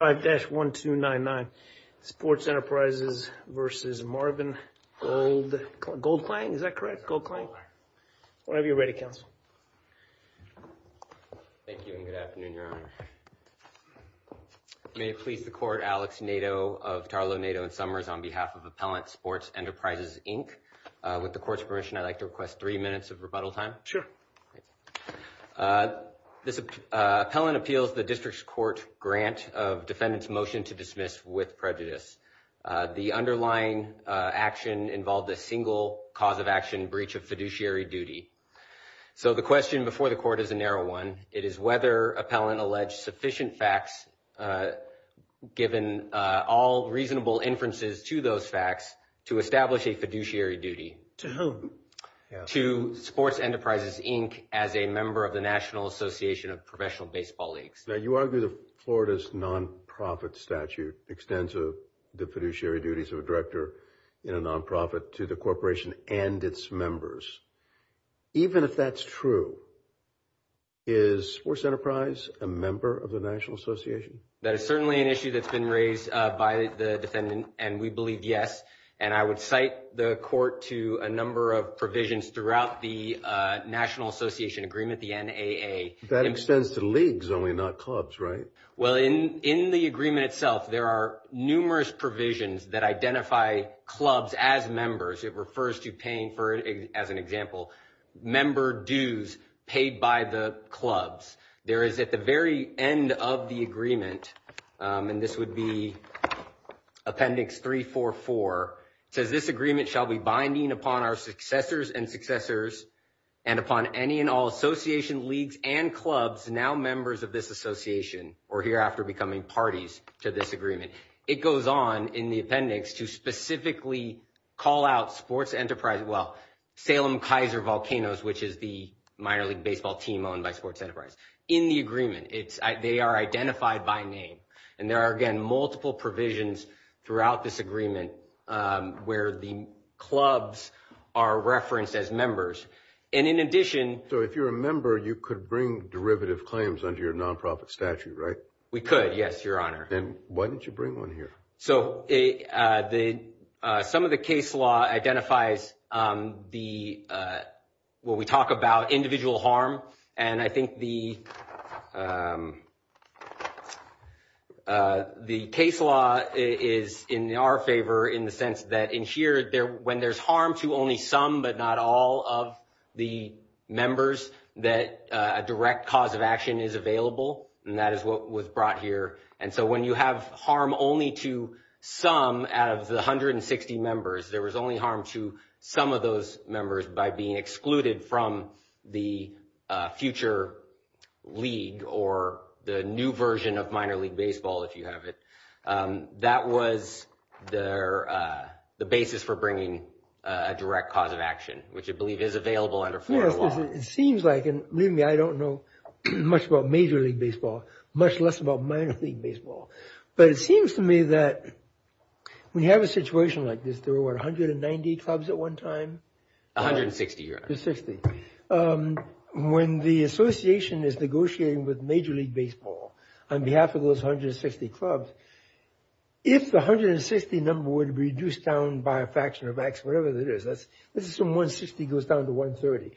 5-1299, Sports Enterprises versus Marvin GoldKlang, is that correct? GoldKlang? Whenever you're ready, counsel. Thank you and good afternoon, your honor. May it please the court, Alex Nadeau of Tarlow, Nadeau & Summers on behalf of Appellant Sports Enterprises Inc. With the court's permission, I'd like to request three minutes of rebuttal time. Sure. This appellant appeals the district's grant of defendant's motion to dismiss with prejudice. The underlying action involved a single cause of action breach of fiduciary duty. So the question before the court is a narrow one. It is whether appellant alleged sufficient facts given all reasonable inferences to those facts to establish a fiduciary duty. To whom? To Sports Enterprises Inc. as a member of the Florida's non-profit statute extends the fiduciary duties of a director in a non-profit to the corporation and its members. Even if that's true, is Sports Enterprise a member of the National Association? That is certainly an issue that's been raised by the defendant and we believe yes and I would cite the court to a number of provisions throughout the National Association Agreement, the NAA. That extends to leagues only, not clubs, right? Well, in the agreement itself, there are numerous provisions that identify clubs as members. It refers to paying for, as an example, member dues paid by the clubs. There is at the very end of the agreement, and this would be Appendix 344, it says, this agreement shall be binding upon our successors and successors and upon any and all association leagues and clubs now members of this association or hereafter becoming parties to this agreement. It goes on in the appendix to specifically call out Sports Enterprise, well, Salem-Kaiser Volcanoes, which is the minor league baseball team owned by Sports Enterprise. In the agreement, they are identified by name and there are again multiple provisions throughout this agreement where the clubs are referenced as members. And in addition, so if you're a member, you could bring derivative claims under your non-profit statute, right? We could, yes, your honor. Then why didn't you bring one here? So some of the case law identifies the, well, we talk about individual harm and I think the case law is in our favor in the sense that in here, when there's harm to only some but not all of the members that a direct cause of action is available, and that is what was brought here. And so when you have harm only to some out of the 160 members, there was only harm to some of those members by being excluded from the future league or the new version of minor league baseball, if you have it. That was the basis for bringing a direct cause of action, which I believe is available under Florida law. It seems like, and believe me, I don't know much about major league baseball, much less about minor league baseball, but it seems to me that when you have a situation like this, there were 190 clubs at one time. 160, your honor. When the association is negotiating with major league baseball on behalf of those 160 clubs, if the 160 number were to be reduced down by a number 130,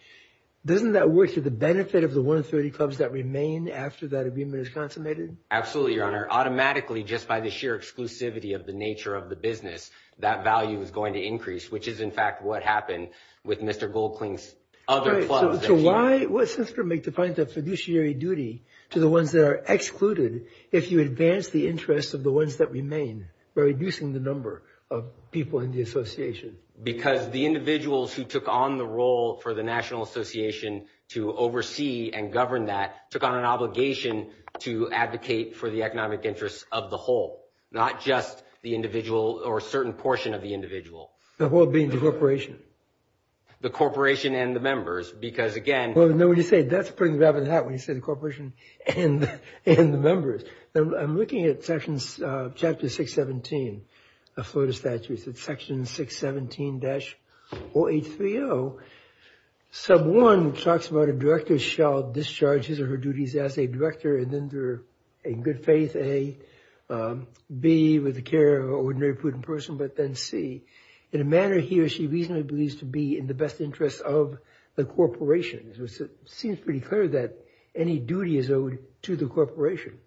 doesn't that work to the benefit of the 130 clubs that remain after that abuse is consummated? Absolutely, your honor. Automatically, just by the sheer exclusivity of the nature of the business, that value is going to increase, which is in fact what happened with Mr. Goldkling's other clubs. So why, what sense does it make to find a fiduciary duty to the ones that are excluded if you advance the interests of the ones that remain by reducing the number of people in the association? Because the individuals who took on the role for the National Association to oversee and govern that took on an obligation to advocate for the economic interests of the whole, not just the individual or certain portion of the individual. The whole being the corporation? The corporation and the members, because again... Well, no, when you say that, that's putting the rabbit in the hat when you say the corporation and the members. I'm looking at sections, chapter 617 of Florida Statutes. It's section 617-0830. Sub 1 talks about a director shall discharge his or her duties as a director and then through in good faith, A, B, with the care of an ordinary prudent person, but then C, in a manner he or she reasonably believes to be in the best interest of the corporation. It seems pretty clear that any duty is owed to the corporation.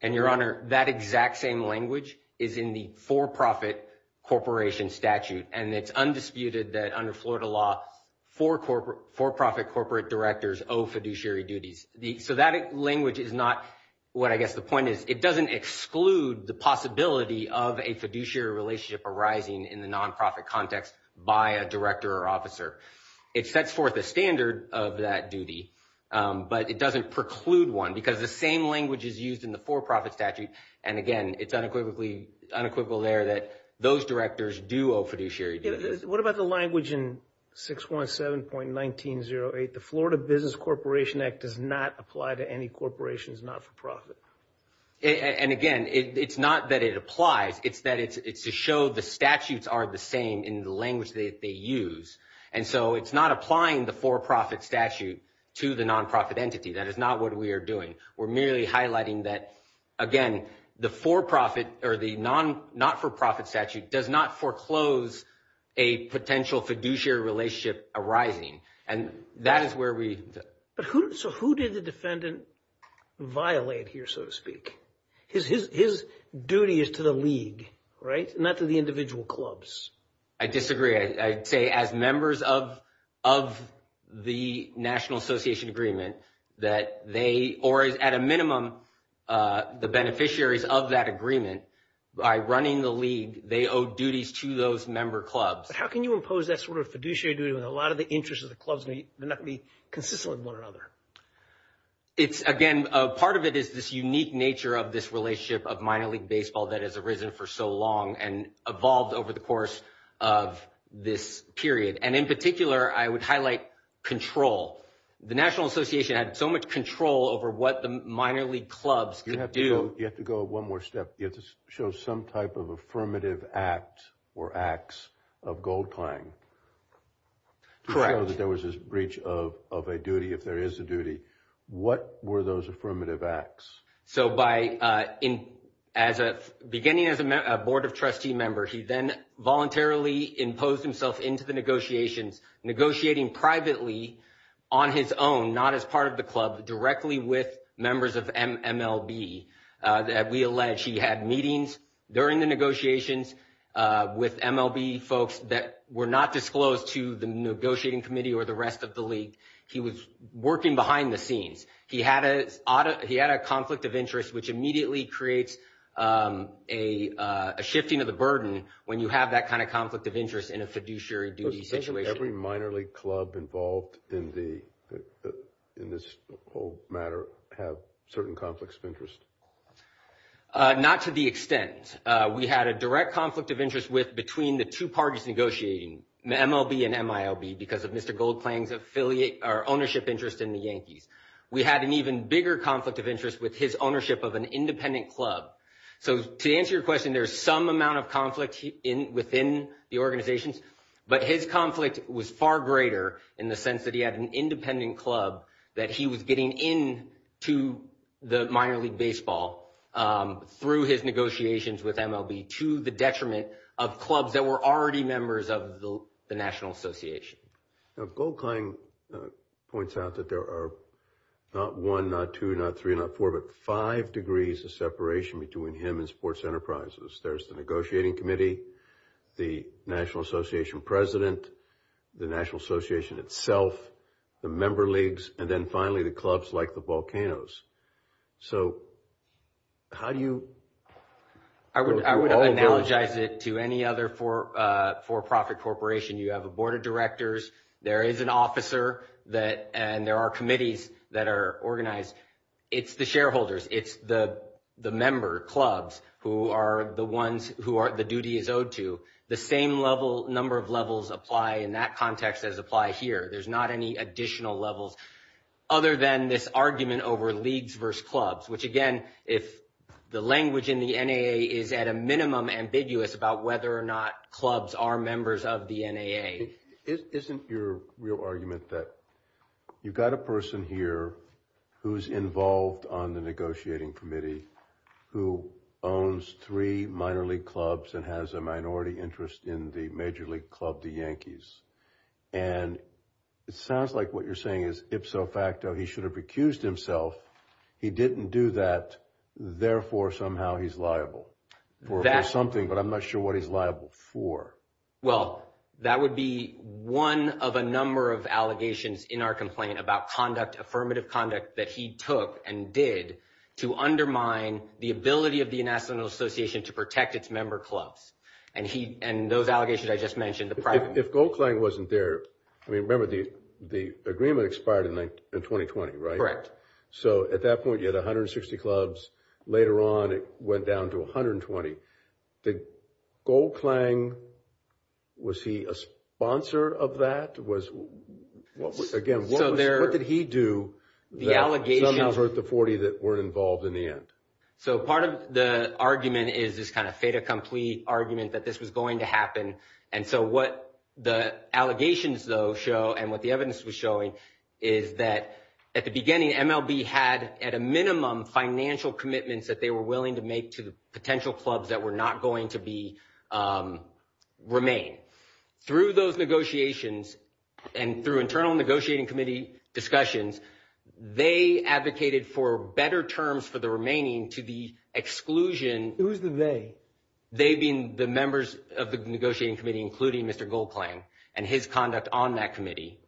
And your honor, that exact same language is in the for-profit corporation statute and it's undisputed that under Florida law, for-profit corporate directors owe fiduciary duties. So that language is not what I guess the point is. It doesn't exclude the possibility of a fiduciary relationship arising in the non-profit context by a director or officer. It sets forth a standard of that duty, but it doesn't preclude one because the same language is used in the for-profit statute. And again, it's unequivocally unequivocal there that those directors do owe fiduciary duties. What about the language in 617.1908? The Florida Business Corporation Act does not apply to any corporations not for profit. And again, it's not that it applies, it's that it's to show the statutes are the same in the it's not applying the for-profit statute to the non-profit entity. That is not what we are doing. We're merely highlighting that, again, the non-for-profit statute does not foreclose a potential fiduciary relationship arising. And that is where we... So who did the defendant violate here, so to speak? His duty is to the league, right? Not to the individual clubs. I disagree. I'd say as members of the National Association Agreement that they, or at a minimum, the beneficiaries of that agreement, by running the league, they owe duties to those member clubs. But how can you impose that sort of fiduciary duty when a lot of the interests of the clubs may not be consistent with one another? Again, part of it is this unique nature of this relationship of minor league baseball that has arisen for so long and evolved over the course of this period. And in particular, I would highlight control. The National Association had so much control over what the minor league clubs could do. You have to go one more step. You have to show some type of affirmative act or acts of gold-plying. Correct. There was this breach of a duty, if there is a duty. What were those affirmative acts? So beginning as a board of trustee member, he then voluntarily imposed himself into the negotiations, negotiating privately on his own, not as part of the club, directly with members of MLB. We allege he had meetings during the negotiations with MLB folks that were not disclosed to the negotiating committee or the rest of the league. He was working behind the scenes. He had a conflict of interest, which immediately creates a shifting of the burden when you have that kind of conflict of interest in a fiduciary duty situation. Does every minor league club involved in this whole matter have certain conflicts of interest? Not to the extent. We had a direct conflict of interest with between the two parties negotiating, MLB and MILB, because of Mr. Goldklang's ownership interest in the Yankees. We had an even bigger conflict of interest with his ownership of an independent club. So to answer your question, there's some amount of conflict within the organizations, but his conflict was far greater in the sense that he had an independent club that he was getting into the minor league baseball through his negotiations with MLB to the detriment of clubs that were already members of the National Association. Goldklang points out that there are not one, not two, not three, not four, but five degrees of separation between him and Sports Enterprises. There's the negotiating committee, the National Association president, the National Association itself, the member leagues, and then finally the clubs like the Volcanoes. So how do you- I would analogize it to any other for-profit corporation. You have a board of directors, there is an officer, and there are committees that are organized. It's the shareholders, it's the member clubs who the duty is owed to. The same number of levels apply in that context as apply here. There's not any additional levels other than this argument over leagues versus clubs, which again, if the language in the NAA is at a minimum ambiguous about whether or not clubs are members of the NAA. Isn't your real argument that you've got a person here who's involved on the negotiating committee who owns three minor league clubs and has a and it sounds like what you're saying is ipso facto, he should have recused himself. He didn't do that. Therefore, somehow he's liable for something, but I'm not sure what he's liable for. Well, that would be one of a number of allegations in our complaint about conduct, affirmative conduct that he took and did to undermine the ability of the National Association to protect its member clubs. And those allegations I just mentioned- If Goldklang wasn't there, I mean, remember the agreement expired in 2020, right? So at that point, you had 160 clubs. Later on, it went down to 120. Goldklang, was he a sponsor of that? Again, what did he do that somehow hurt the 40 that weren't involved in the end? So part of the argument is this kind of fait accompli argument that this was going to And so what the allegations though show and what the evidence was showing is that at the beginning, MLB had at a minimum financial commitments that they were willing to make to the potential clubs that were not going to remain. Through those negotiations and through internal negotiating committee discussions, they advocated for better terms for the remaining to the exclusion- Who's the they? They being the members of the negotiating committee, including Mr. Goldklang and his conduct on that committee.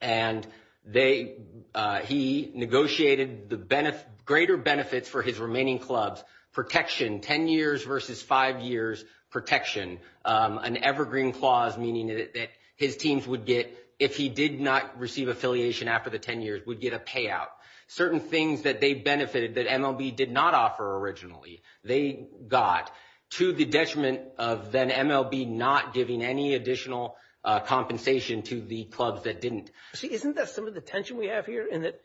And he negotiated the greater benefits for his remaining clubs, protection, 10 years versus five years protection, an evergreen clause, meaning that his teams would get, if he did not receive affiliation after the 10 years, would get a payout. Certain things that they benefited that MLB did not offer originally. They got to the detriment of then MLB not giving any additional compensation to the clubs that didn't. See, isn't that some of the tension we have here in that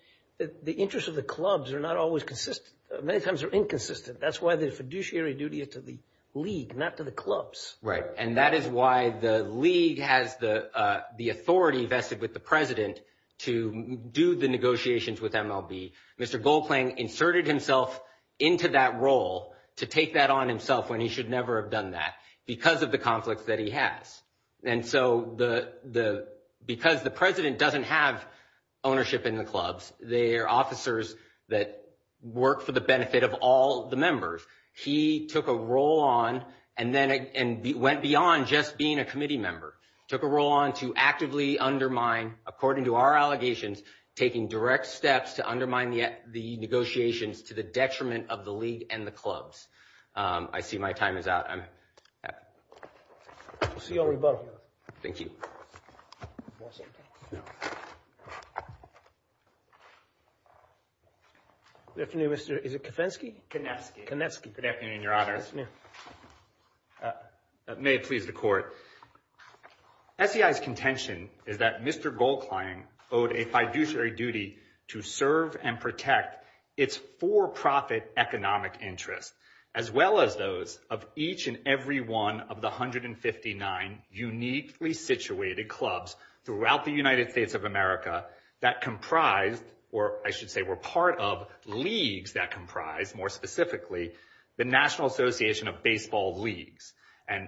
the interest of the clubs are not always consistent. Many times they're inconsistent. That's why the fiduciary duty is to the league, not to the clubs. Right. And that is why the league has the authority vested with the president to do the negotiations with MLB. Mr. Goldklang inserted himself into that role to take that on himself when he should never have done that because of the conflicts that he has. And so because the president doesn't have ownership in the clubs, they are officers that work for the benefit of all the members. He took a role on and then went beyond just being a committee member, took a role on to actively undermine, according to our allegations, taking direct steps to undermine the negotiations to the detriment of the league and the clubs. I see my time is out. We'll see you on rebuttal. Thank you. Good afternoon, Mr. Is it Kofensky? Konesky. Konesky. Good afternoon, Your Honor. Good afternoon. May it please the court. SEI's contention is that Mr. Goldklang owed a fiduciary duty to serve and protect its for-profit economic interests, as well as those of each and every one of the 159 uniquely situated clubs throughout the United States of America that comprised, or I should say were part of, leagues that comprised, more specifically, the National Association of Baseball Leagues. And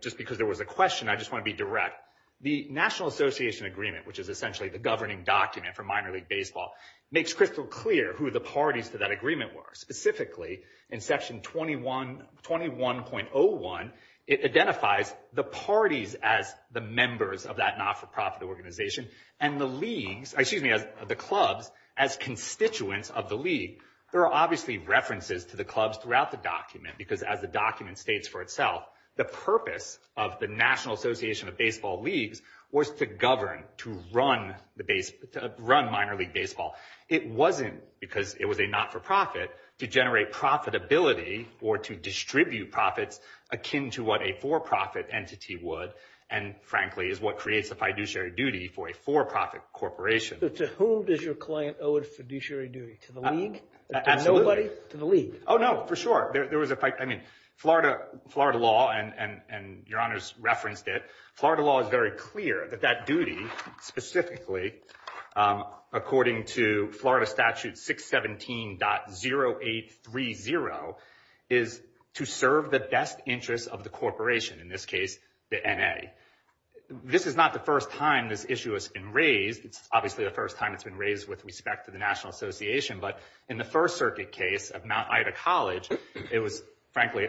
just because there was a question, I just want to be direct. The National Association Agreement, which is essentially the governing document for minor league baseball, makes crystal clear who the parties to that agreement were. Specifically, in Section 21.01, it identifies the parties as the members of that not-for-profit organization and the clubs as constituents of the league. There are obviously references to the clubs throughout the document because, as the document states for itself, the purpose of the National Association of Baseball Leagues was to govern, to run minor league baseball. It wasn't because it was a not-for-profit to generate profitability or to distribute profits akin to what a for-profit entity would and, frankly, is what creates the fiduciary duty for a for-profit corporation. But to whom does your client owe a fiduciary duty? To the league? Absolutely. To nobody? To the league? Oh no, for sure. There was a, I mean, Florida law, and your honors referenced it, Florida law is very clear that that duty, specifically, according to Florida Statute 617.0830, is to serve the best interests of the corporation, in this case, the N.A. This is not the first time this issue has been raised. It's obviously the first time it's been raised with respect to the National Association, but in the First Circuit case of Mount Ida College, it was, frankly,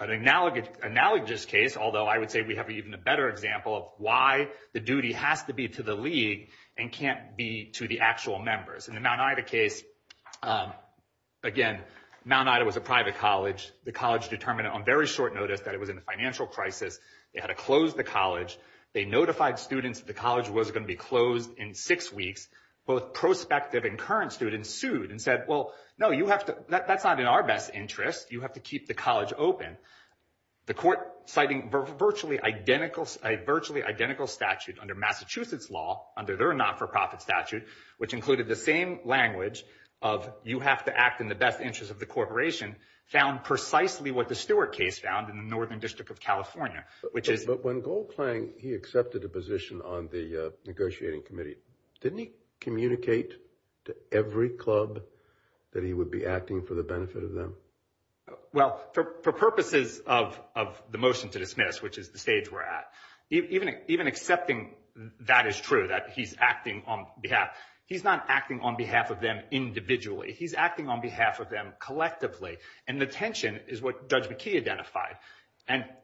an analogous case, although I would say we have even a better example of why the duty has to be to the league and can't be to the actual members. In the Mount Ida case, again, Mount Ida was a private college. The college determined on very short notice that it was in a financial crisis. They had to close the college. They notified students that the college was going to be closed in six weeks. Both prospective and current students sued and said, well, no, you have to, that's not in our best interest. You have to keep the college open. The court, citing a virtually identical statute under Massachusetts law, under their not-for-profit statute, which included the same language of, you have to act in the best interest of the corporation, found precisely what the Stewart case found in the Northern District of California, which is... But when Goldklang, he accepted a position on the negotiating committee, didn't he communicate to every club that he would be acting for the benefit of them? Well, for purposes of the motion to dismiss, which is the stage we're at, even accepting that is true, that he's acting on behalf, he's not acting on behalf of them individually. He's acting on behalf of them collectively. And the tension is what Judge McKee identified.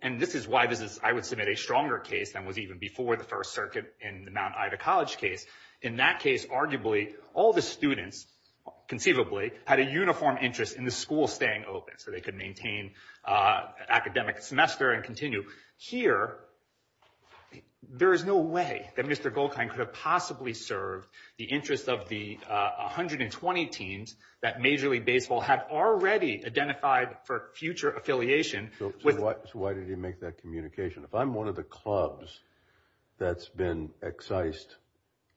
And this is why I would submit a stronger case than was even before the First Circuit in the Mount Ida College case. In that case, arguably, all the students, conceivably, had a uniform interest in the school staying open, so they could maintain academic semester and continue. Here, there is no way that Mr. Goldklang could have possibly served the interest of the 120 teams that Major League Baseball had already identified for future affiliation with... So why did he make that communication? If I'm one of the clubs that's been excised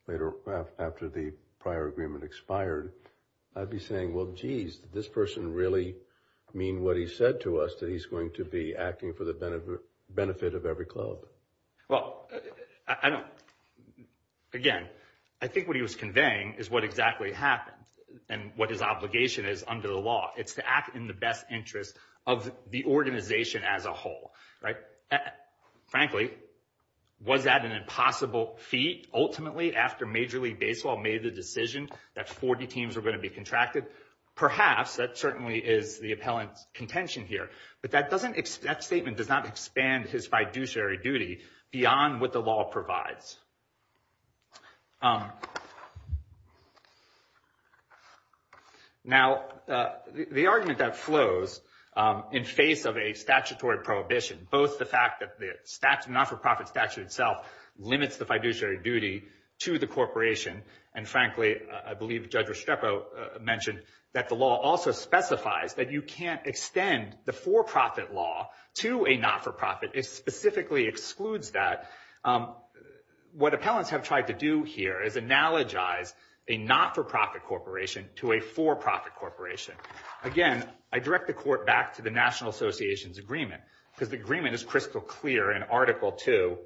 later after the prior agreement expired, I'd be saying, well, geez, did this person really mean what he said to us, that he's going to be acting for the benefit of every club? Well, I don't... Again, I think what he was conveying is what exactly happened and what his obligation is under the law. It's to act in the best interest of the organization as a whole, right? Frankly, was that an impossible feat, ultimately, after Major League Baseball made the decision that 40 teams were going to be contracted? Perhaps. That certainly is the appellant's contention here. But that statement does not expand his fiduciary duty beyond what law provides. Now, the argument that flows in face of a statutory prohibition, both the fact that the not-for-profit statute itself limits the fiduciary duty to the corporation, and frankly, I believe Judge Restrepo mentioned that the law also specifies that you can't extend the for-profit law to a not-for-profit. It specifically excludes that. What appellants have tried to do here is analogize a not-for-profit corporation to a for-profit corporation. Again, I direct the court back to the National Association's agreement, because the agreement is crystal clear in Article 2,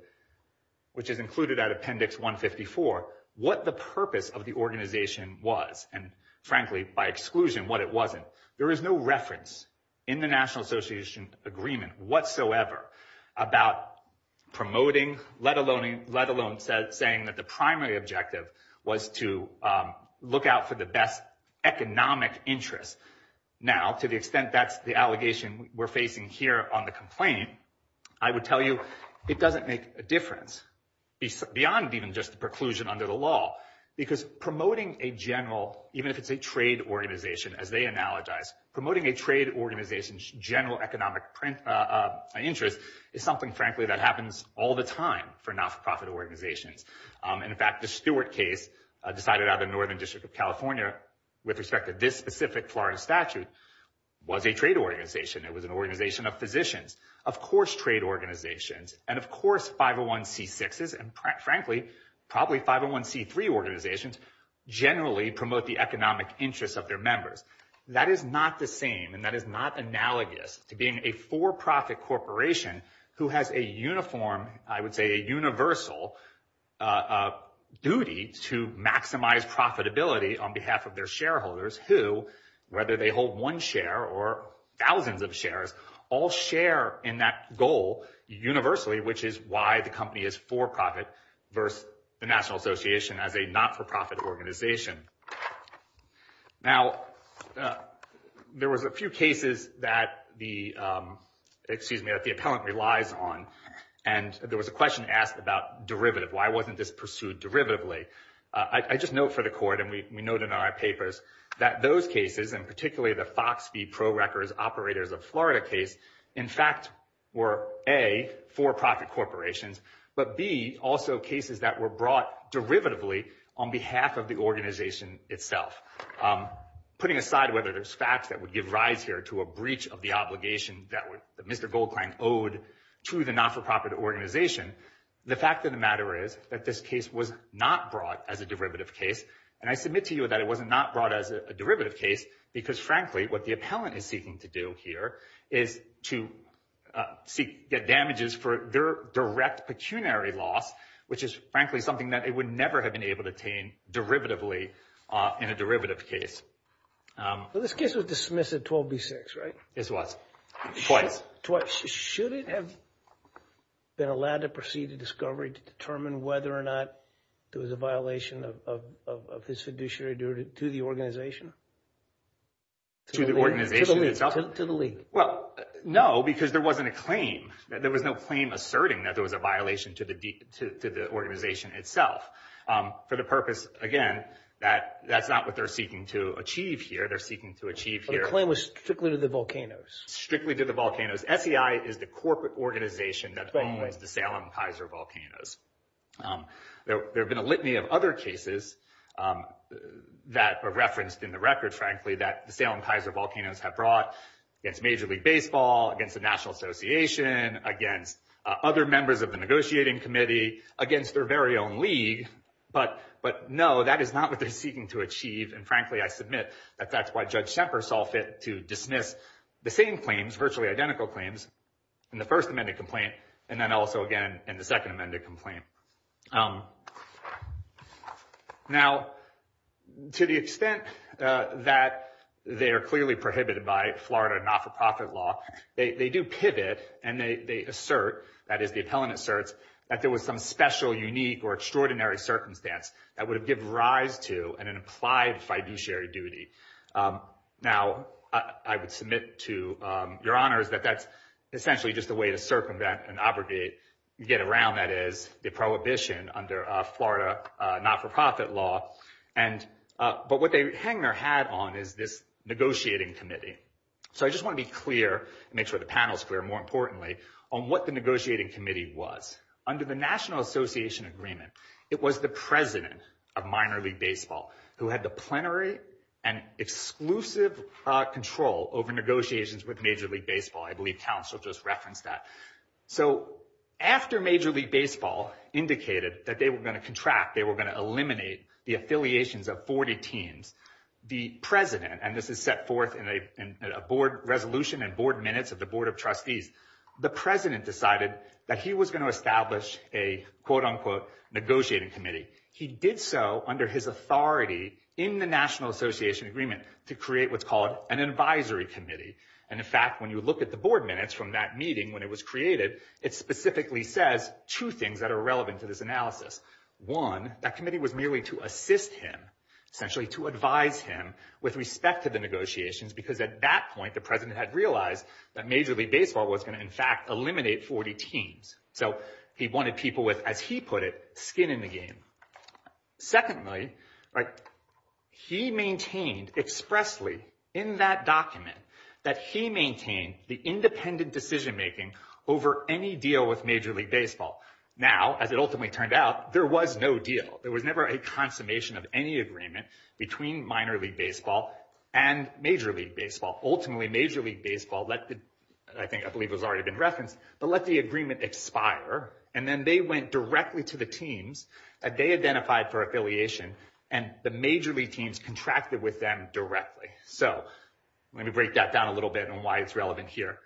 which is included at Appendix 154, what the purpose of the organization was, and frankly, by exclusion, what it wasn't. There is no reference in the National Association agreement whatsoever about promoting, let alone saying that the primary objective was to look out for the best economic interest. Now, to the extent that's the allegation we're facing here on the complaint, I would tell you it doesn't make a difference beyond even just the preclusion under the law, because promoting a general, even if it's a trade organization, as they analogize, promoting a trade organization's general economic interest is something, frankly, that happens all the time for not-for-profit organizations. In fact, the Stewart case decided out of the Northern District of California with respect to this specific Florida statute was a trade organization. It was an organization of physicians, of course trade organizations, and of course 501c6s, and frankly, probably 501c3 organizations generally promote the economic interest of their members. That is not the same, and that is not analogous to being a for-profit corporation who has a uniform, I would say a universal, duty to maximize profitability on behalf of their shareholders who, whether they hold one share or thousands of shares, all share in that goal universally, which is why the company is for-profit versus the National Association as a not-for-profit organization. Now, there was a few cases that the, excuse me, that the appellant relies on, and there was a question asked about derivative. Why wasn't this pursued derivatively? I just note for the court, and we note in our papers, that those cases, and particularly the Fox v. Pro Records Operators of Florida case, in fact were A, for-profit corporations, but B, also cases that were brought derivatively on behalf of the organization itself. Putting aside whether there's facts that would give rise here to a breach of the obligation that Mr. Goldklang owed to the not-for-profit organization, the fact of the matter is that this case was not brought as a derivative case, and I submit to you that it was not brought as a derivative case because, frankly, what the appellant is seeking to do here is to seek, get damages for their direct pecuniary loss, which is, frankly, something that it would never have been able to attain derivatively in a derivative case. Well, this case was dismissed at 12B6, right? This was. Twice. Twice. Should it have been allowed to proceed to discovery to determine whether or not there was a violation of his fiduciary derivative to the organization? To the organization itself? To the league. Well, no, because there wasn't a claim. There was no claim asserting that there was a violation to the organization itself for the purpose, again, that that's not what they're seeking to achieve here. They're seeking to achieve here. The claim was strictly to the volcanoes. Strictly to the volcanoes. SEI is the corporate organization that owns the Salem-Kaiser Volcanoes. There have been a litany of other cases that are referenced in the record, frankly, that the Salem-Kaiser Volcanoes have brought against Major League Baseball, against the National Association, against other members of the negotiating committee, against their very own league. But no, that is not what they're seeking to achieve, and frankly, I submit that that's why Judge Semper saw fit to dismiss the same claims, virtually identical claims, in the first amended complaint, and then also, again, in the second amended complaint. Now, to the extent that they are clearly prohibited by Florida not-for-profit law, they do pivot and they assert, that is the appellant asserts, that there was some special, unique, or extraordinary circumstance that would have given rise to an implied fiduciary duty. Now, I would submit to your honors that that's essentially just a way to circumvent and abrogate, get around, that is, the prohibition under Florida not-for-profit law. But what they hang their hat on is this negotiating committee. So I just want to be clear, make sure the panel's clear, more importantly, on what the negotiating committee was. Under the National Exclusive Control over Negotiations with Major League Baseball, I believe Council just referenced that. So after Major League Baseball indicated that they were going to contract, they were going to eliminate the affiliations of 40 teams, the president, and this is set forth in a board resolution and board minutes of the board of trustees, the president decided that he was going to establish a, quote-unquote, negotiating committee. He did so under his authority in the National Association Agreement to create what's called an advisory committee. And in fact, when you look at the board minutes from that meeting when it was created, it specifically says two things that are relevant to this analysis. One, that committee was merely to assist him, essentially to advise him with respect to the negotiations, because at that point the president had realized that Major League Baseball was going to, in fact, eliminate 40 teams. So he wanted people with, as he maintained expressly in that document, that he maintained the independent decision-making over any deal with Major League Baseball. Now, as it ultimately turned out, there was no deal. There was never a consummation of any agreement between Minor League Baseball and Major League Baseball. Ultimately, Major League Baseball let the, I think, I believe it was already been referenced, but let the agreement expire. And then they went directly to the teams that they identified for affiliation and the Major League teams contracted with them directly. So let me break that down a little bit on why it's relevant here.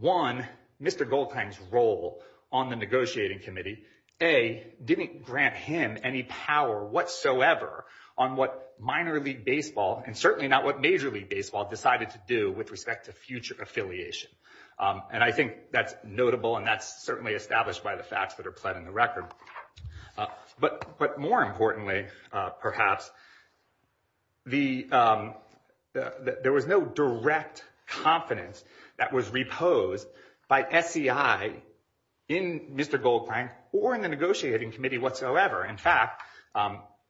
One, Mr. Goldthang's role on the negotiating committee, A, didn't grant him any power whatsoever on what Minor League Baseball, and certainly not what Major League Baseball, decided to do with respect to future affiliation. And I think that's notable and that's certainly established by the facts that are pled in the record. But more importantly, perhaps, there was no direct confidence that was reposed by SEI in Mr. Goldthang or in the negotiating committee whatsoever. In fact,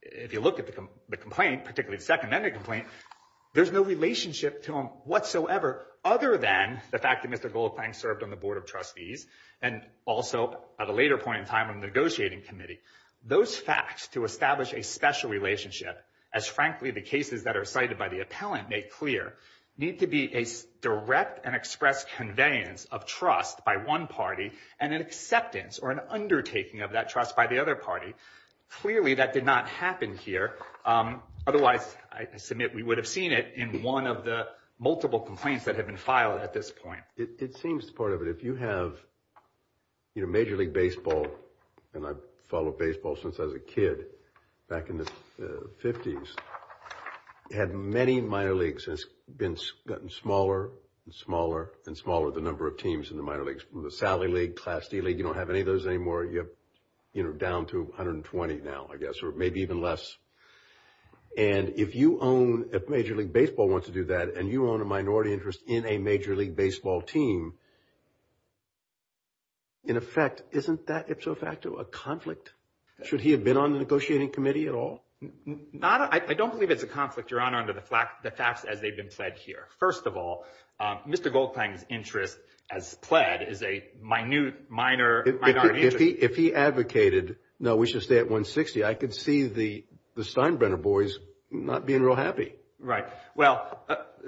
if you look at the complaint, particularly the second-mended complaint, there's no relationship to him whatsoever other than the fact that Mr. Goldthang served on the board of trustees and also at a later point in time on the negotiating committee. Those facts to establish a special relationship, as frankly the cases that are cited by the appellant make clear, need to be a direct and expressed conveyance of trust by one party and an acceptance or an undertaking of that trust by the other party. Clearly, that did not happen here. Otherwise, I submit we would have seen it in one of the multiple complaints that have been filed at this point. It seems part of it. If you have Major League Baseball, and I've followed baseball since I was a kid, back in the 50s, had many minor leagues. It's gotten smaller and smaller and smaller, the number of teams in the minor leagues. The Sally League, Class D League, you don't have any of those anymore. You're down to 120 now, I guess, or maybe even less. And if you own, if Major League Baseball wants to do that and you own a minority interest in a Major League Baseball team, in effect, isn't that ipso facto a conflict? Should he have been on the negotiating committee at all? I don't believe it's a conflict, Your Honor, under the facts as they've been pled here. First of all, Mr. Goldklang's interest as pled is a minute, minor, minority interest. If he advocated, no, we should stay at 160, I could see the Steinbrenner boys not being real happy. Right. Well,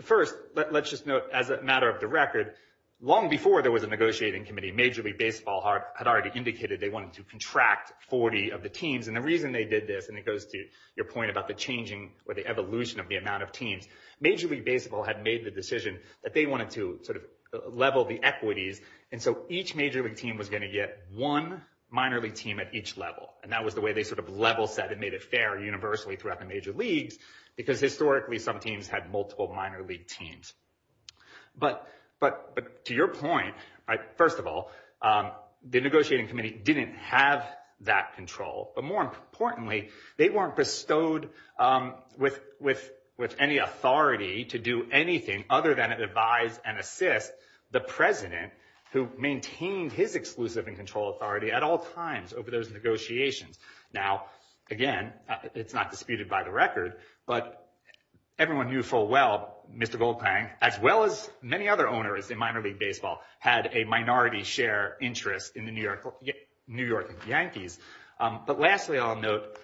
first, let's just note, as a matter of the record, long before there was a negotiating committee, Major League Baseball had already indicated they wanted to contract 40 of the teams. And the reason they did this, and it goes to your point about the changing or the evolution of the amount of teams, Major League Baseball had made the decision that they wanted to sort of level the equities. And so each major league team was going to get one minor league team at each level. And that was the way they sort of level set and fair universally throughout the major leagues, because historically, some teams had multiple minor league teams. But to your point, first of all, the negotiating committee didn't have that control. But more importantly, they weren't bestowed with any authority to do anything other than advise and assist the president who maintained his exclusive and control authority at all times over those negotiations. Now, again, it's not disputed by the record, but everyone knew full well Mr. Goldklang, as well as many other owners in minor league baseball, had a minority share interest in the New York Yankees. But lastly, I'll note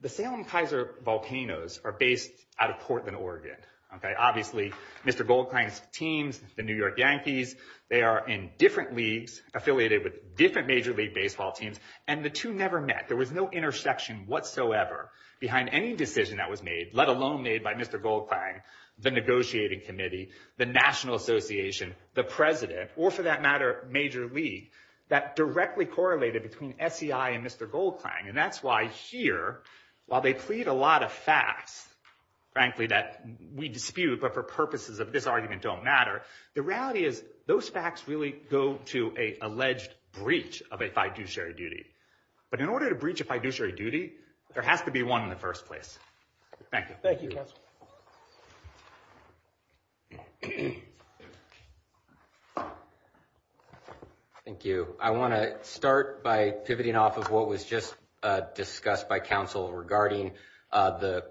the Salem-Kaiser Volcanoes are based out of Portland, Oregon. Obviously, Mr. Goldklang's teams, the New York Yankees, they are in different leagues affiliated with different major league baseball teams, and the two never met. There was no intersection whatsoever behind any decision that was made, let alone made by Mr. Goldklang, the negotiating committee, the National Association, the president, or for that matter, major league, that directly correlated between SEI and Mr. Goldklang. And that's why here, while they plead a lot of facts, frankly, that we dispute, but for purposes of this argument don't matter, the reality is those facts really go to a alleged breach of a fiduciary duty. But in order to breach a fiduciary duty, there has to be one in the first place. Thank you. Thank you, counsel. Thank you. I want to start by pivoting off of what was just discussed by counsel regarding the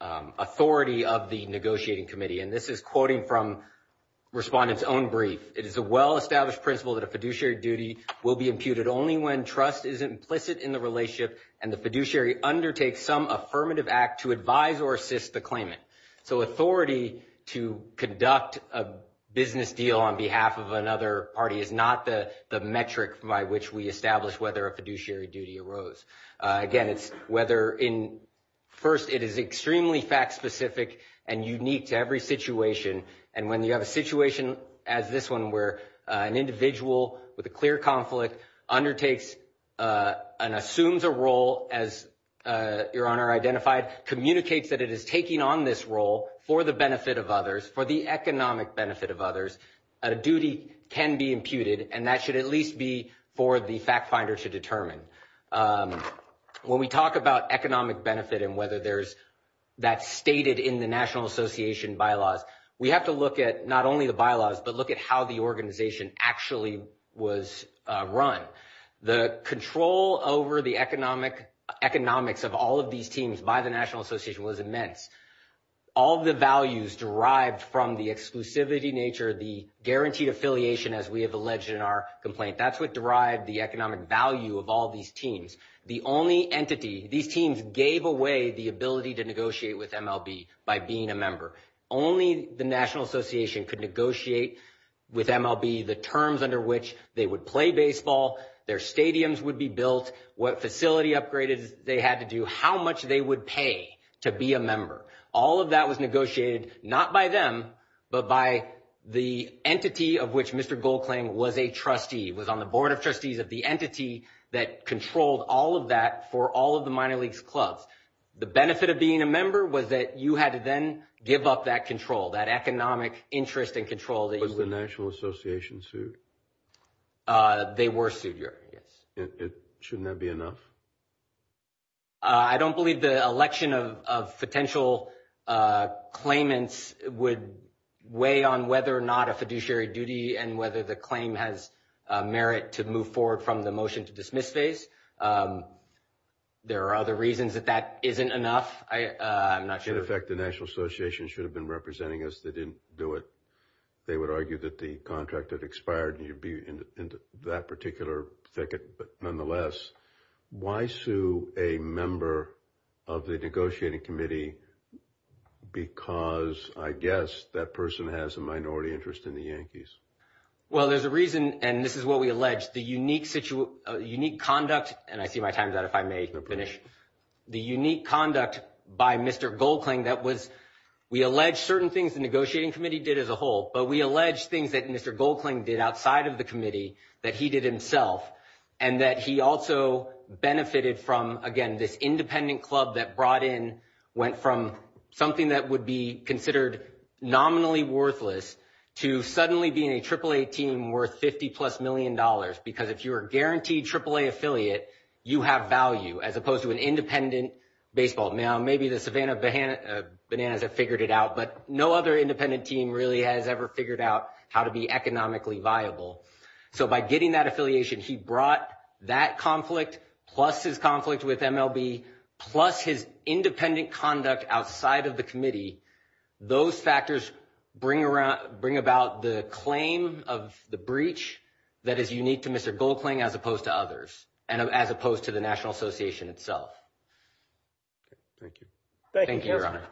authority of the negotiating committee, and this is quoting from respondent's own brief. It is a well-established principle that a fiduciary duty will be imputed only when trust is implicit in the relationship and the fiduciary undertakes some affirmative act to advise or assist the claimant. So authority to conduct a business deal on behalf of another party is not the metric by which we establish whether a fiduciary duty arose. Again, it's whether in first, it is extremely fact-specific and unique to every situation. And when you have a situation as this one, where an individual with a clear conflict undertakes and assumes a role as your honor identified, communicates that it is taking on this role for the benefit of others, for the economic benefit of others, a duty can be imputed, and that should at least be for the fact finder to determine. When we talk about economic benefit and whether there's that stated in the National Association bylaws, we have to look at not only the bylaws, but look at how the organization actually was run. The control over the economics of all of these teams by the National Association was immense. All the values derived from the exclusivity nature, the guaranteed affiliation as we have alleged in our complaint, that's what derived the economic value of all these teams. The only entity, these teams gave away the ability to negotiate with MLB by being a member. Only the National Association could negotiate with MLB the terms under which they would play baseball, their stadiums would be built, what facility upgraded they had to do, how much they would pay to be a member. All of that was negotiated not by them, but by the entity of which Mr. Goldclaim was a trustee, was on the board of trustees of the entity that controlled all of that for all of the minor leagues clubs. The benefit of being a member was that you had to then give up that control, that economic interest and control. Was the National Association sued? They were sued, yes. Shouldn't that be enough? I don't believe the election of potential claimants would weigh on whether or not a fiduciary duty and whether the claim has merit to move forward from the motion to dismiss phase. There are other reasons that that isn't enough, I'm not sure. In effect, the National Association should have been representing us, they didn't do it. They would argue that the contract had expired and you'd be in that particular thicket. But nonetheless, why sue a member of the negotiating committee because, I guess, that person has a minority interest in the Yankees? Well, there's a reason, and this is what we allege, the unique conduct, and I see my time's out if I may finish, the unique conduct by Mr. Goldclaim that was, we allege certain things the negotiating committee did as a whole, but we allege things that Mr. Goldclaim did outside of the committee that he did himself, and that he also benefited from, again, this independent club that brought in, went from something that would be considered nominally worthless to suddenly being a AAA team worth 50 plus million dollars. Because if you're a guaranteed AAA affiliate, you have value as opposed to an independent baseball. Now, maybe the Savannah Bananas have figured it out, but no other independent team really has ever figured out how to be economically viable. So by getting that affiliation, he brought that conflict, plus his conflict with MLB, plus his independent conduct outside of the committee, those factors bring about the claim of the breach that is unique to Mr. Goldclaim as opposed to others, and as opposed to the Thank you. Thank you, your honor.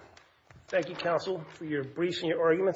Thank you, counsel, for your briefs and your arguments.